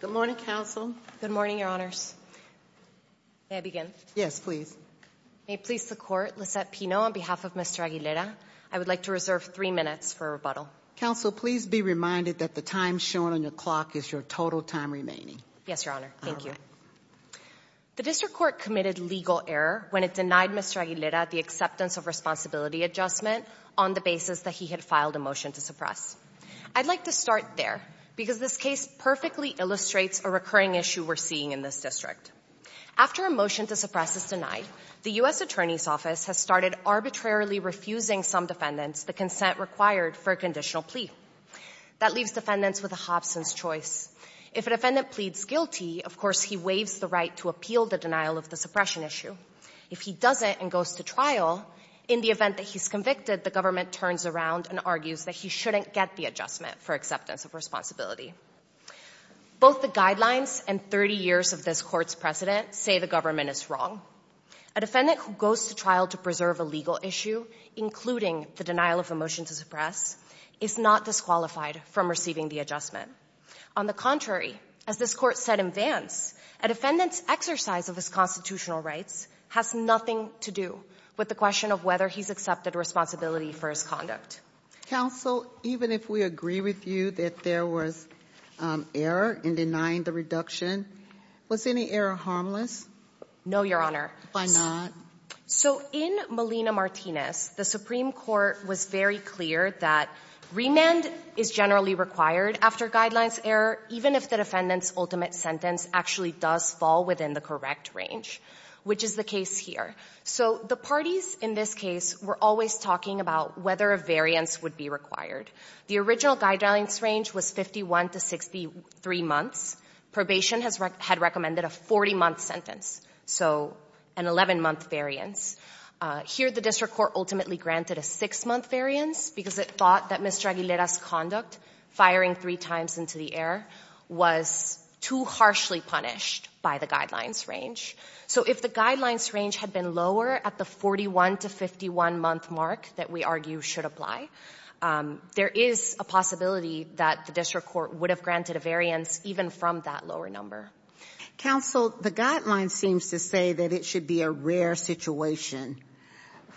Good morning, Counsel. Good morning, Your Honors. May I begin? Yes, please. May it please the Court, Lissette Pino on behalf of Mr. Aguilera, I would like to reserve three minutes for a rebuttal. Counsel, please be reminded that the time shown on your clock is your total time remaining. Yes, Your Honor. Thank you. The District Court committed legal error when it denied Mr. Aguilera the acceptance of responsibility adjustment on the basis that he had filed a motion to suppress. I'd like to start there because this case perfectly illustrates a recurring issue we're seeing in this district. After a motion to suppress is denied, the U.S. Attorney's Office has started arbitrarily refusing some defendants the consent required for a conditional plea. That leaves defendants with a Hobson's choice. If a defendant pleads guilty, of course he waives the right to appeal the denial of the suppression issue. If he doesn't and goes to trial, in the event that he's responsibility. Both the guidelines and 30 years of this court's precedent say the government is wrong. A defendant who goes to trial to preserve a legal issue, including the denial of the motion to suppress, is not disqualified from receiving the adjustment. On the contrary, as this court said in advance, a defendant's exercise of his constitutional rights has nothing to do with the question of whether he's accepted responsibility for his conduct. Counsel, even if we agree with you that there was error in denying the reduction, was any error harmless? No, Your Honor. Why not? So in Melina Martinez, the Supreme Court was very clear that remand is generally required after guidelines error, even if the defendant's ultimate sentence actually does fall within the correct range, which is the case here. So the parties in this case were always talking about whether a variance would be required. The original guidelines range was 51 to 63 months. Probation had recommended a 40-month sentence, so an 11-month variance. Here the district court ultimately granted a six-month variance because it thought that Mr. Aguilera's conduct, firing three times into the air, was too harshly punished by the guidelines range. So if the guidelines range had been lower at the 41 to 51-month mark that we argue should apply, there is a possibility that the district court would have granted a variance even from that lower number. Counsel, the guideline seems to say that it should be a rare situation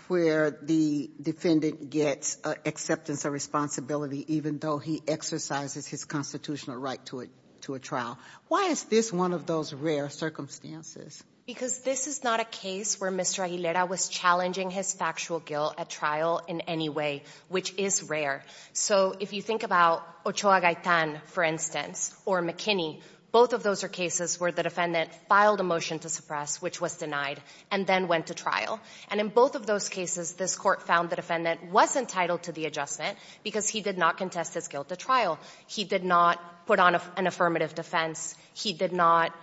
where the defendant gets acceptance of responsibility even though he exercises his constitutional right to a trial. Why is this one of those rare circumstances? Because this is not a case where Mr. Aguilera was challenging his factual guilt at trial in any way, which is rare. So if you think about Ochoa-Gaetan, for instance, or McKinney, both of those are cases where the defendant filed a motion to suppress, which was denied, and then went to trial. And in both of those cases, this Court found the defendant was entitled to the adjustment because he did not contest his guilt at trial. He did not put on an affirmative defense. He did not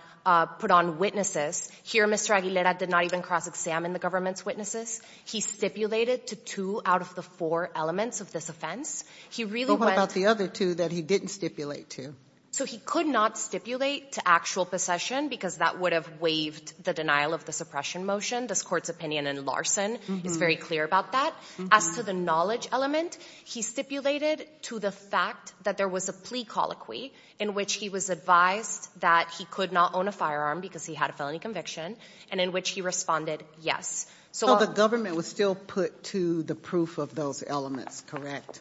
put on witnesses. Here, Mr. Aguilera did not even cross-examine the government's witnesses. He stipulated to two out of the four elements of this offense. He really went to the other two that he didn't stipulate to. So he could not stipulate to actual possession because that would have waived the denial of the suppression motion. This Court's opinion in Larson is very clear about that. As to the knowledge element, he stipulated to the fact that there was a plea colloquy in which he was advised that he could not own a firearm because he had a felony conviction, and in which he responded yes. So the government was still put to the proof of those elements, correct?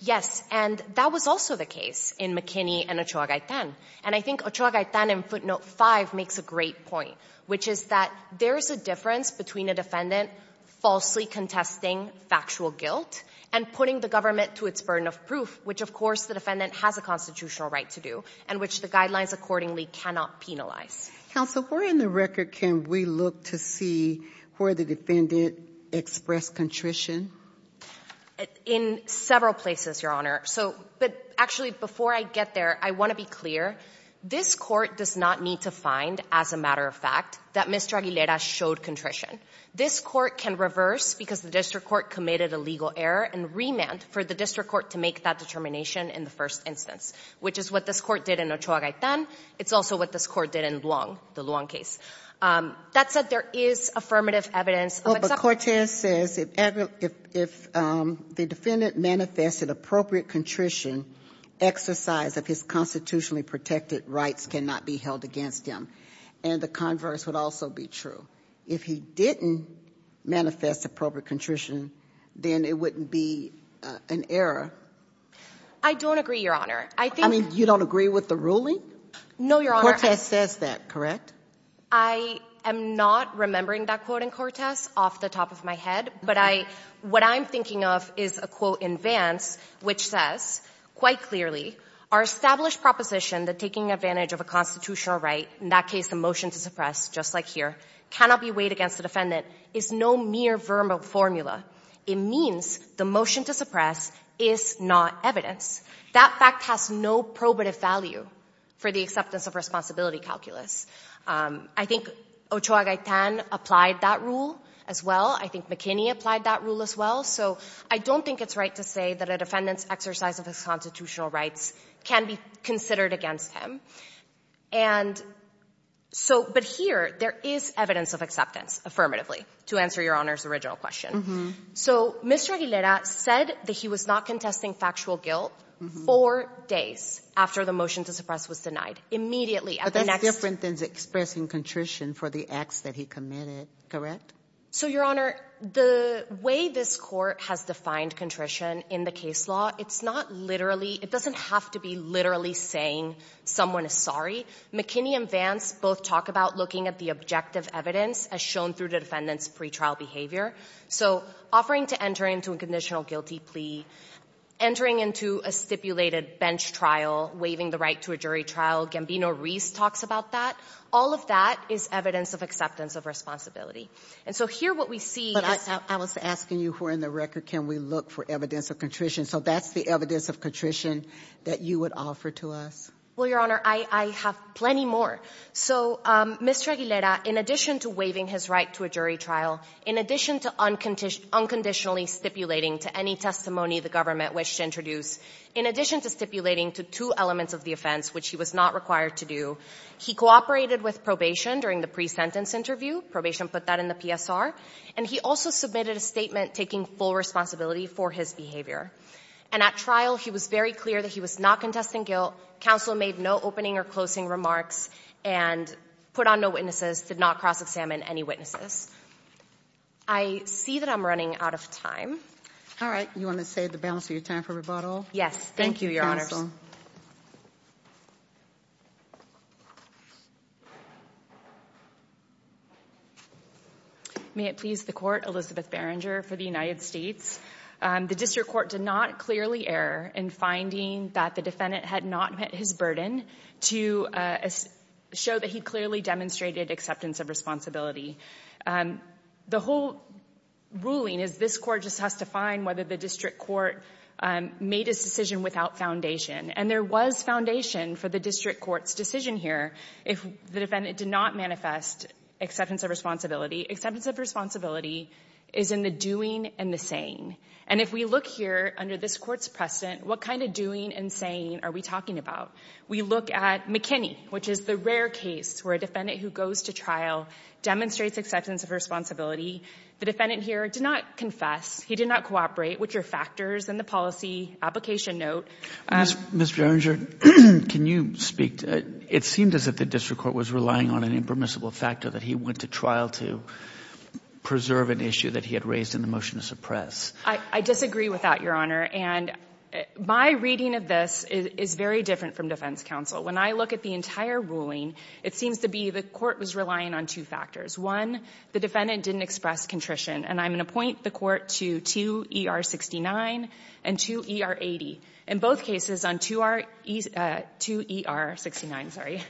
Yes, and that was also the case in McKinney and Ochoa-Gaetan. And I think Ochoa-Gaetan in footnote five makes a great point, which is that there is a difference between a defendant falsely contesting factual guilt and putting the government to its burden of proof, which, of course, the defendant has a constitutional right to do and which the guidelines accordingly cannot penalize. Counsel, where in the record can we look to see where the defendant expressed contrition? In several places, Your Honor. But actually, before I get there, I want to be clear. This Court does not need to find, as a matter of fact, that Mr. Aguilera showed contrition. This Court can reverse, because the district court committed a legal error, and remand for the district court to make that determination in the first instance, which is what this Court did in Ochoa-Gaetan. It's also what this Court did in Luong, the Luong case. That said, there is affirmative evidence of exception. Oh, but Cortez says if the defendant manifested appropriate contrition, exercise of his constitutionally protected rights cannot be held against him. And the converse would also be true. If he didn't manifest appropriate contrition, then it wouldn't be an error. I don't agree, Your Honor. I mean, you don't agree with the ruling? No, Your Honor. Cortez says that, correct? I am not remembering that quote in Cortez off the top of my head, but what I'm thinking of is a quote in Vance, which says quite clearly, our established proposition that taking advantage of a constitutional right, in that case the motion to suppress, just like here, cannot be weighed against the defendant is no mere verb of formula. It means the motion to suppress is not evidence. That fact has no probative value for the acceptance of responsibility calculus. I think Ochoa-Gaetan applied that rule as well. I think McKinney applied that rule as well. So I don't think it's right to say that defendant's exercise of his constitutional rights can be considered against him. But here, there is evidence of acceptance, affirmatively, to answer Your Honor's original question. So Mr. Aguilera said that he was not contesting factual guilt four days after the motion to suppress was denied, immediately at the next- But that's different than expressing contrition for the acts that he committed, correct? So, Your Honor, the way this court has defined contrition in the case law, it's not literally, it doesn't have to be literally saying someone is sorry. McKinney and Vance both talk about looking at the objective evidence as shown through the defendant's pretrial behavior. So, offering to enter into a conditional guilty plea, entering into a stipulated bench trial, waiving the right to a jury trial, Gambino-Reese talks about that, all of that is evidence of acceptance of responsibility. And so here what we see is- But I was asking you who are in the record can we look for evidence of contrition? So that's the evidence of contrition that you would offer to us? Well, Your Honor, I have plenty more. So, Mr. Aguilera, in addition to waiving his right to a jury trial, in addition to unconditionally stipulating to any testimony the government wished to introduce, in addition to stipulating to two elements of the offense, which he was not required to do, he cooperated with probation during the pre-sentence interview, probation put that in the PSR, and he also submitted a statement taking full responsibility for his behavior. And at trial he was very clear that he was not contesting guilt, counsel made no opening or closing remarks, and put on no witnesses, did not cross-examine any witnesses. I see that I'm running out of time. All right, you want to save the balance of your time for rebuttal? Yes. Thank you, Your Honor. May it please the court, Elizabeth Berenger for the United States. The district court did not clearly err in finding that the defendant had not met his burden to show that he clearly demonstrated acceptance of responsibility. And the whole ruling is this court just has to find whether the district court made his decision without foundation. And there was foundation for the district court's decision here if the defendant did not manifest acceptance of responsibility. Acceptance of responsibility is in the doing and the saying. And if we look here under this court's precedent, what kind of doing and saying are we talking about? We look at McKinney, which is the rare case where a defendant who goes to trial demonstrates acceptance of responsibility. The defendant here did not confess. He did not cooperate, which are factors in the policy application note. Mr. Berenger, can you speak to it? It seemed as if the district court was relying on an impermissible factor that he went to trial to preserve an issue that he had raised in the motion to suppress. I disagree with that, Your Honor. And my reading of this is very different from defense counsel. When I look at the entire ruling, it seems to be the court was relying on two factors. One, the defendant didn't express contrition. And I'm going to point the court to 2ER69 and 2ER80. In both cases on 2ER69,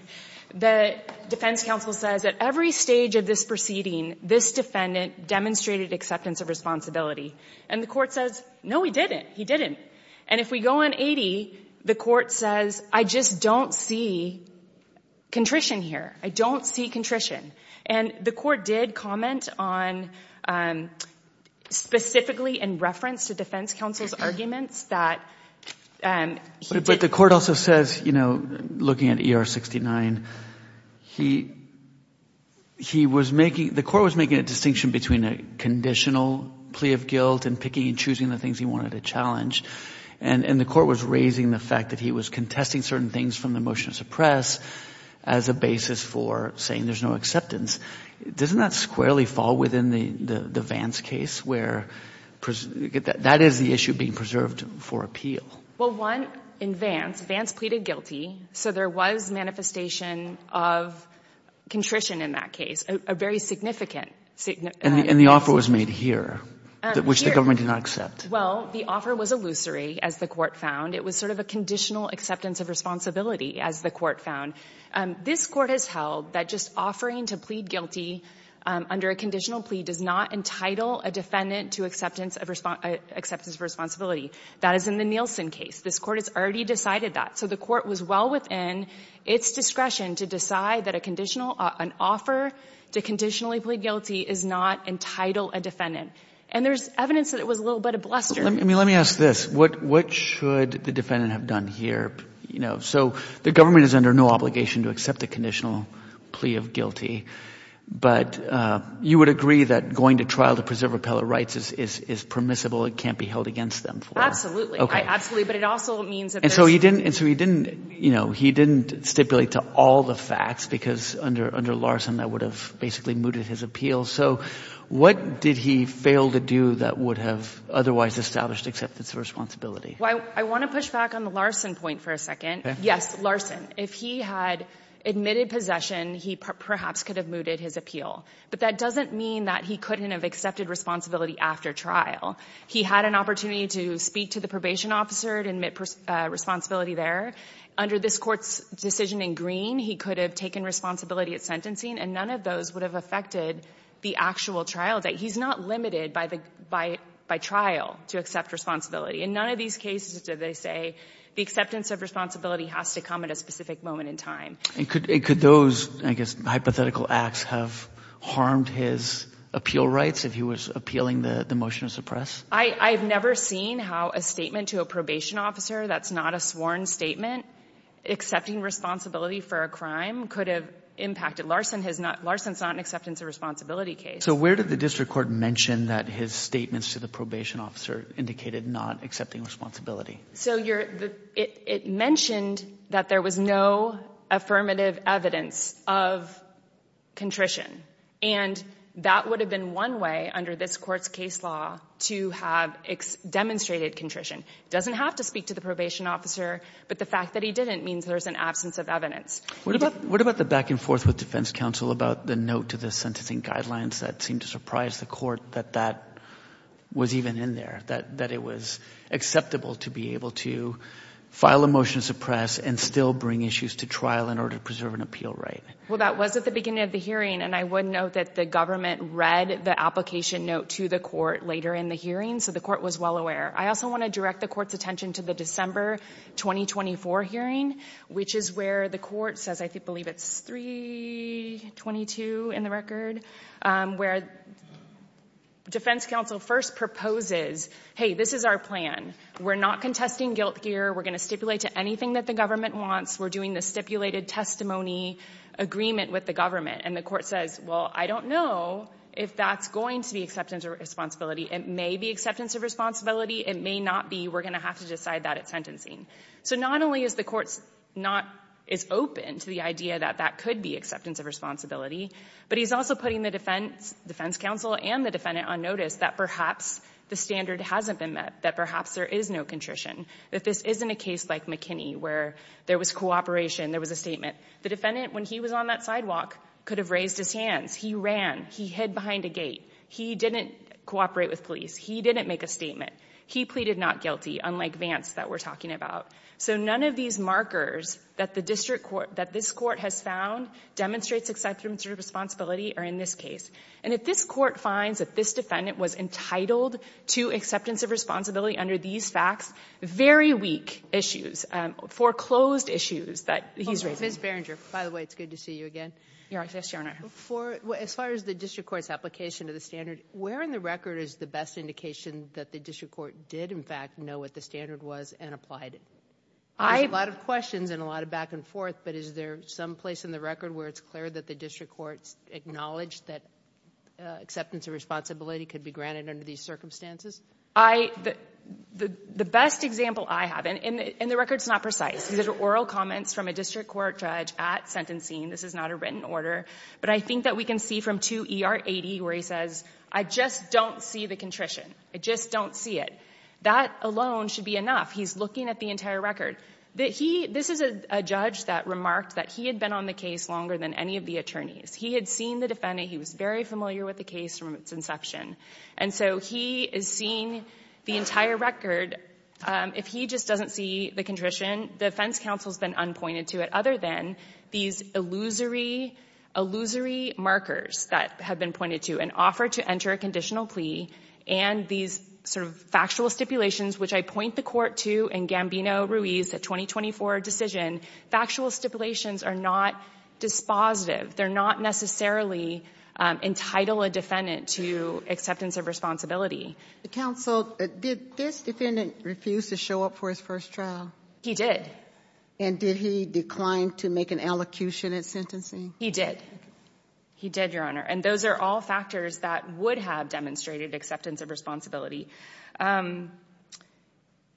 the defense counsel says at every stage of this proceeding, this defendant demonstrated acceptance of responsibility. And the court says, no, he didn't. And if we go on 2ER80, the court says, I just don't see contrition here. I don't see contrition. And the court did comment on specifically in reference to defense counsel's arguments that he did. But the court also says, you know, looking at 2ER69, he was making, the court was making a distinction between a conditional plea of guilt and picking and choosing the things he wanted to challenge. And the court was raising the fact that he was contesting certain things from the motion to suppress as a basis for saying there's no acceptance. Doesn't that squarely fall within the Vance case, where that is the issue being preserved for appeal? Well, one, in Vance, Vance pleaded guilty. So there was manifestation of contrition in that case, a very significant significance. And the offer was made here, which the government did not do. Well, the offer was illusory, as the court found. It was sort of a conditional acceptance of responsibility, as the court found. This court has held that just offering to plead guilty under a conditional plea does not entitle a defendant to acceptance of responsibility. That is in the Nielsen case. This court has already decided that. So the court was well within its discretion to decide that a conditional, an offer to conditionally plead guilty is not entitle a defendant. And there's evidence that it was a little bit of bluster. Let me ask this. What should the defendant have done here? So the government is under no obligation to accept a conditional plea of guilty. But you would agree that going to trial to preserve appellate rights is permissible. It can't be held against them. Absolutely. Absolutely. But it also means that there's... And so he didn't stipulate to all the facts, because under Larson, that would have basically mooted his appeal. So what did he fail to do that would have otherwise established acceptance of responsibility? Well, I want to push back on the Larson point for a second. Yes, Larson. If he had admitted possession, he perhaps could have mooted his appeal. But that doesn't mean that he couldn't have accepted responsibility after trial. He had an opportunity to speak to the probation officer to admit responsibility there. Under this Court's decision in Green, he could have taken responsibility at sentencing, and none of those would have affected the actual trial. He's not limited by trial to accept responsibility. In none of these cases do they say the acceptance of responsibility has to come at a specific moment in time. And could those, I guess, hypothetical acts have harmed his appeal rights if he was appealing the motion to suppress? I've never seen how a statement to a probation officer that's not a sworn statement, accepting responsibility for a crime, could have impacted. Larson's not an acceptance of responsibility case. So where did the district court mention that his statements to the probation officer indicated not accepting responsibility? So it mentioned that there was no affirmative evidence of contrition. And that would have been one way under this Court's case law to have demonstrated contrition. It didn't mean there's an absence of evidence. What about the back and forth with defense counsel about the note to the sentencing guidelines that seemed to surprise the Court that that was even in there, that it was acceptable to be able to file a motion to suppress and still bring issues to trial in order to preserve an appeal right? Well, that was at the beginning of the hearing, and I would note that the government read the application note to the Court later in the hearing, so the Court was well aware. I also want to direct the Court's attention to the December 2024 hearing, which is where the Court says, I believe it's 322 in the record, where defense counsel first proposes, hey, this is our plan. We're not contesting guilt here. We're going to stipulate to anything that the government wants. We're doing the stipulated testimony agreement with the government. And the Court says, well, I don't know if that's going to be acceptance of responsibility. It may be acceptance of responsibility. It may not be. We're going to have to decide that at sentencing. So not only is the Court's not, is open to the idea that that could be acceptance of responsibility, but he's also putting the defense counsel and the defendant on notice that perhaps the standard hasn't been met, that perhaps there is no contrition, that this isn't a case like McKinney where there was cooperation, there was a statement. The defendant, when he was on that sidewalk, could have raised his hands. He ran. He hid behind a gate. He didn't cooperate with police. He didn't make a statement. He pleaded not guilty, unlike Vance that we're talking about. So none of these markers that the district court, that this Court has found demonstrates acceptance of responsibility are in this case. And if this Court finds that this defendant was entitled to acceptance of responsibility under these facts, very weak issues, foreclosed issues that he's raising. Ms. Berenger, by the way, it's good to see you again. Yes, Your Honor. As far as the district court's application of the standard, where in the record is the best indication that the district court did, in fact, know what the standard was and applied it? There's a lot of questions and a lot of back and forth, but is there some place in the record where it's clear that the district court's acknowledged that acceptance of responsibility could be granted under these circumstances? The best example I have, and the record's not precise, these are oral comments from a district court judge at sentencing. This is not a written order, but I think that we can see from 2 E.R. 80 where he says, I just don't see the contrition. I just don't see it. That alone should be enough. He's looking at the entire record. This is a judge that remarked that he had been on the case longer than any of the He had seen the defendant. He was very familiar with the case from its inception. And so he is seeing the entire record. If he just doesn't see the contrition, the defense counsel's been unpointed to it other than these illusory markers that have been pointed to an offer to enter a conditional plea and these sort of factual stipulations, which I point the court to in Gambino-Ruiz, the 2024 decision. Factual stipulations are not dispositive. They're not necessarily entitled a defendant to acceptance of responsibility. The counsel, did this defendant refuse to show up for his first trial? He did. And did he decline to make an allocution at sentencing? He did. He did, Your Honor. And those are all factors that would have demonstrated acceptance of responsibility.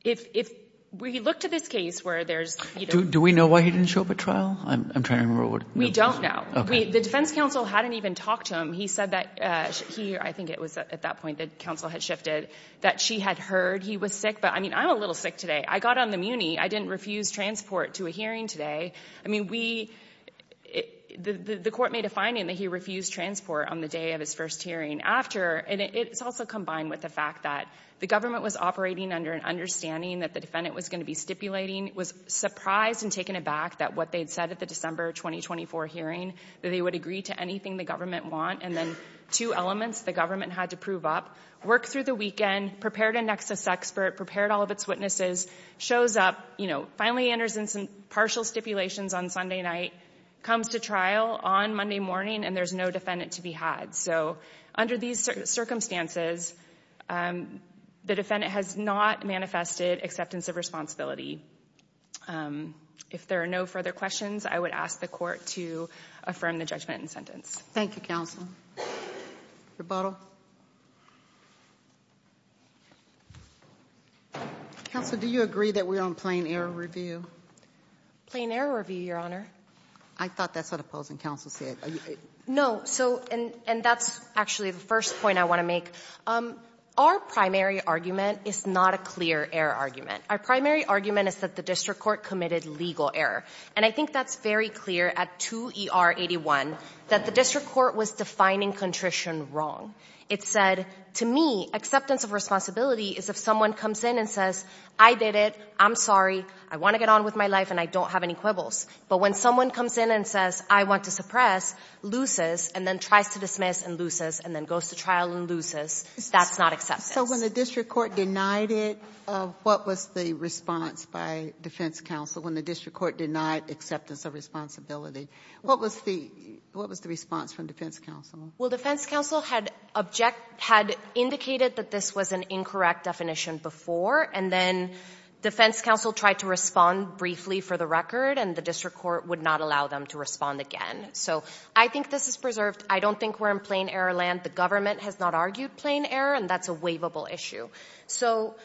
If we look to this case where there's- Do we know why he didn't show up at trial? I'm trying to remember what- We don't know. The defense counsel hadn't even talked to him. He said that he, I think it was at that point that counsel had shifted, that she had heard he was sick. But I mean, I'm a little sick today. I got on the Muni. I didn't refuse transport to a hearing today. I mean, we, the court made a finding that he refused transport on the day of his first hearing. After, and it's also combined with the fact that the government was operating under an understanding that the defendant was going to be stipulating, was surprised and taken aback that what they'd said at the December 2024 hearing, that they would agree to anything the government want. And then two elements the government had to prove up. Worked through the weekend, prepared a nexus expert, prepared all of its witnesses, shows up, you know, finally enters in some partial stipulations on Sunday night, comes to trial on Monday morning, and there's no defendant to be had. So under these circumstances, the defendant has not manifested acceptance of responsibility. If there are no further questions, I would ask the court to affirm the judgment and sentence. Thank you, counsel. Rebuttal. Counsel, do you agree that we're on plain error review? Plain error review, your honor. I thought that's what opposing counsel said. No. So, and that's actually the first point I want to make. Our primary argument is not a clear error argument. Our primary argument is that the district court committed legal error. And I think that's very clear at 2 ER 81 that the district court was defining contrition wrong. It said, to me, acceptance of responsibility is if someone comes in and says, I did it, I'm sorry, I want to get on with my life and I don't have any quibbles. But when someone comes in and says, I want to suppress, loses and then tries to dismiss and loses and then goes to trial and loses, that's not acceptance. So when the district court denied it, what was the response by defense counsel when the district court denied acceptance of responsibility? What was the response from defense counsel? Well, defense counsel had object, had indicated that this was an incorrect definition before. And then defense counsel tried to respond briefly for the record. And the district court would not allow them to respond again. So I think this is preserved. I don't think we're in plain error land. The government has not argued plain error. And that's a waivable issue. So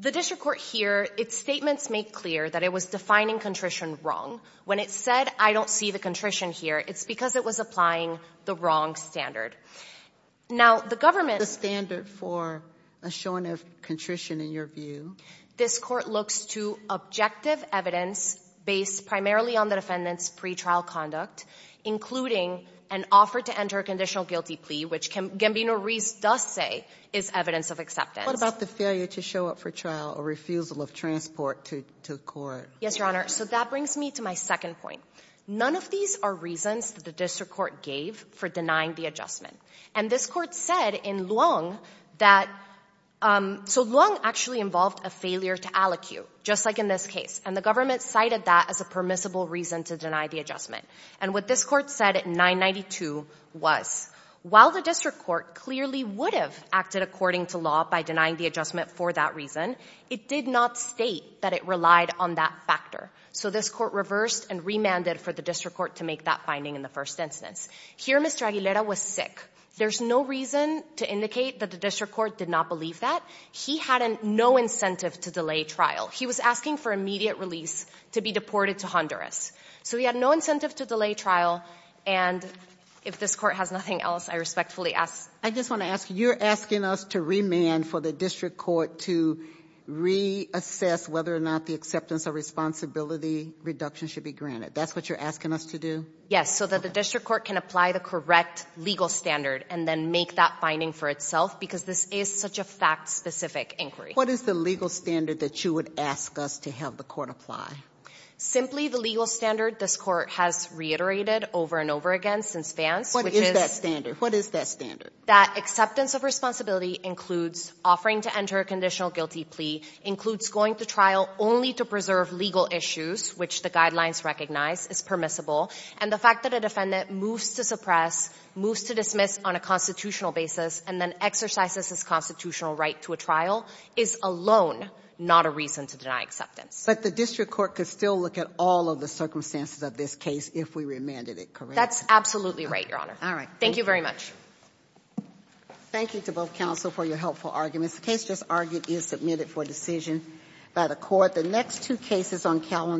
the district court here, its statements make clear that it was defining contrition wrong. When it said, I don't see the contrition here, it's because it was applying the wrong standard. Now, the government... The standard for a showing of contrition, in your view... This court looks to objective evidence based primarily on the defendant's pre-trial conduct, including an offer to enter a conditional guilty plea, which Gambino-Rees does say is evidence of acceptance. What about the failure to show up for trial or refusal of transport to court? Yes, Your Honor. So that brings me to my second point. None of these are reasons that the district court gave for denying the adjustment. And this court said in Luong that... So Luong actually involved a failure to allocute, just like in this case. And the government cited that as a permissible reason to deny the adjustment. And what this court said at 992 was, while the district court clearly would have acted according to law by denying the adjustment for that reason, it did not state that it relied on that factor. So this court reversed and remanded for the district court to make that finding in the first instance. Here, Mr. Aguilera was sick. There's no reason to indicate that the district court did not believe that. He had no incentive to delay trial. He was asking for immediate release to be deported to Honduras. So he had no incentive to delay trial. And if this court has nothing else, I respectfully ask... I just want to ask, you're asking us to remand for the district court to reassess whether or not the acceptance of responsibility reduction should be granted. That's what you're asking us to do? Yes, so that the district court can apply the correct legal standard and then make that finding for itself. Because this is such a fact-specific inquiry. What is the legal standard that you would ask us to have the court apply? Simply the legal standard this court has reiterated over and over again since Vance. What is that standard? What is that standard? That acceptance of responsibility includes offering to enter a conditional guilty plea, includes going to trial only to preserve legal issues, which the guidelines recognize is permissible, and the fact that a defendant moves to suppress, moves to dismiss on a constitutional basis, and then exercises his constitutional right to a trial is alone not a reason to deny acceptance. But the district court could still look at all of the circumstances of this case if we remanded it, correct? That's absolutely right, Your Honor. All right. Thank you very much. Thank you to both counsel for your helpful arguments. The case just argued is submitted for decision by the court. The next two cases on calendar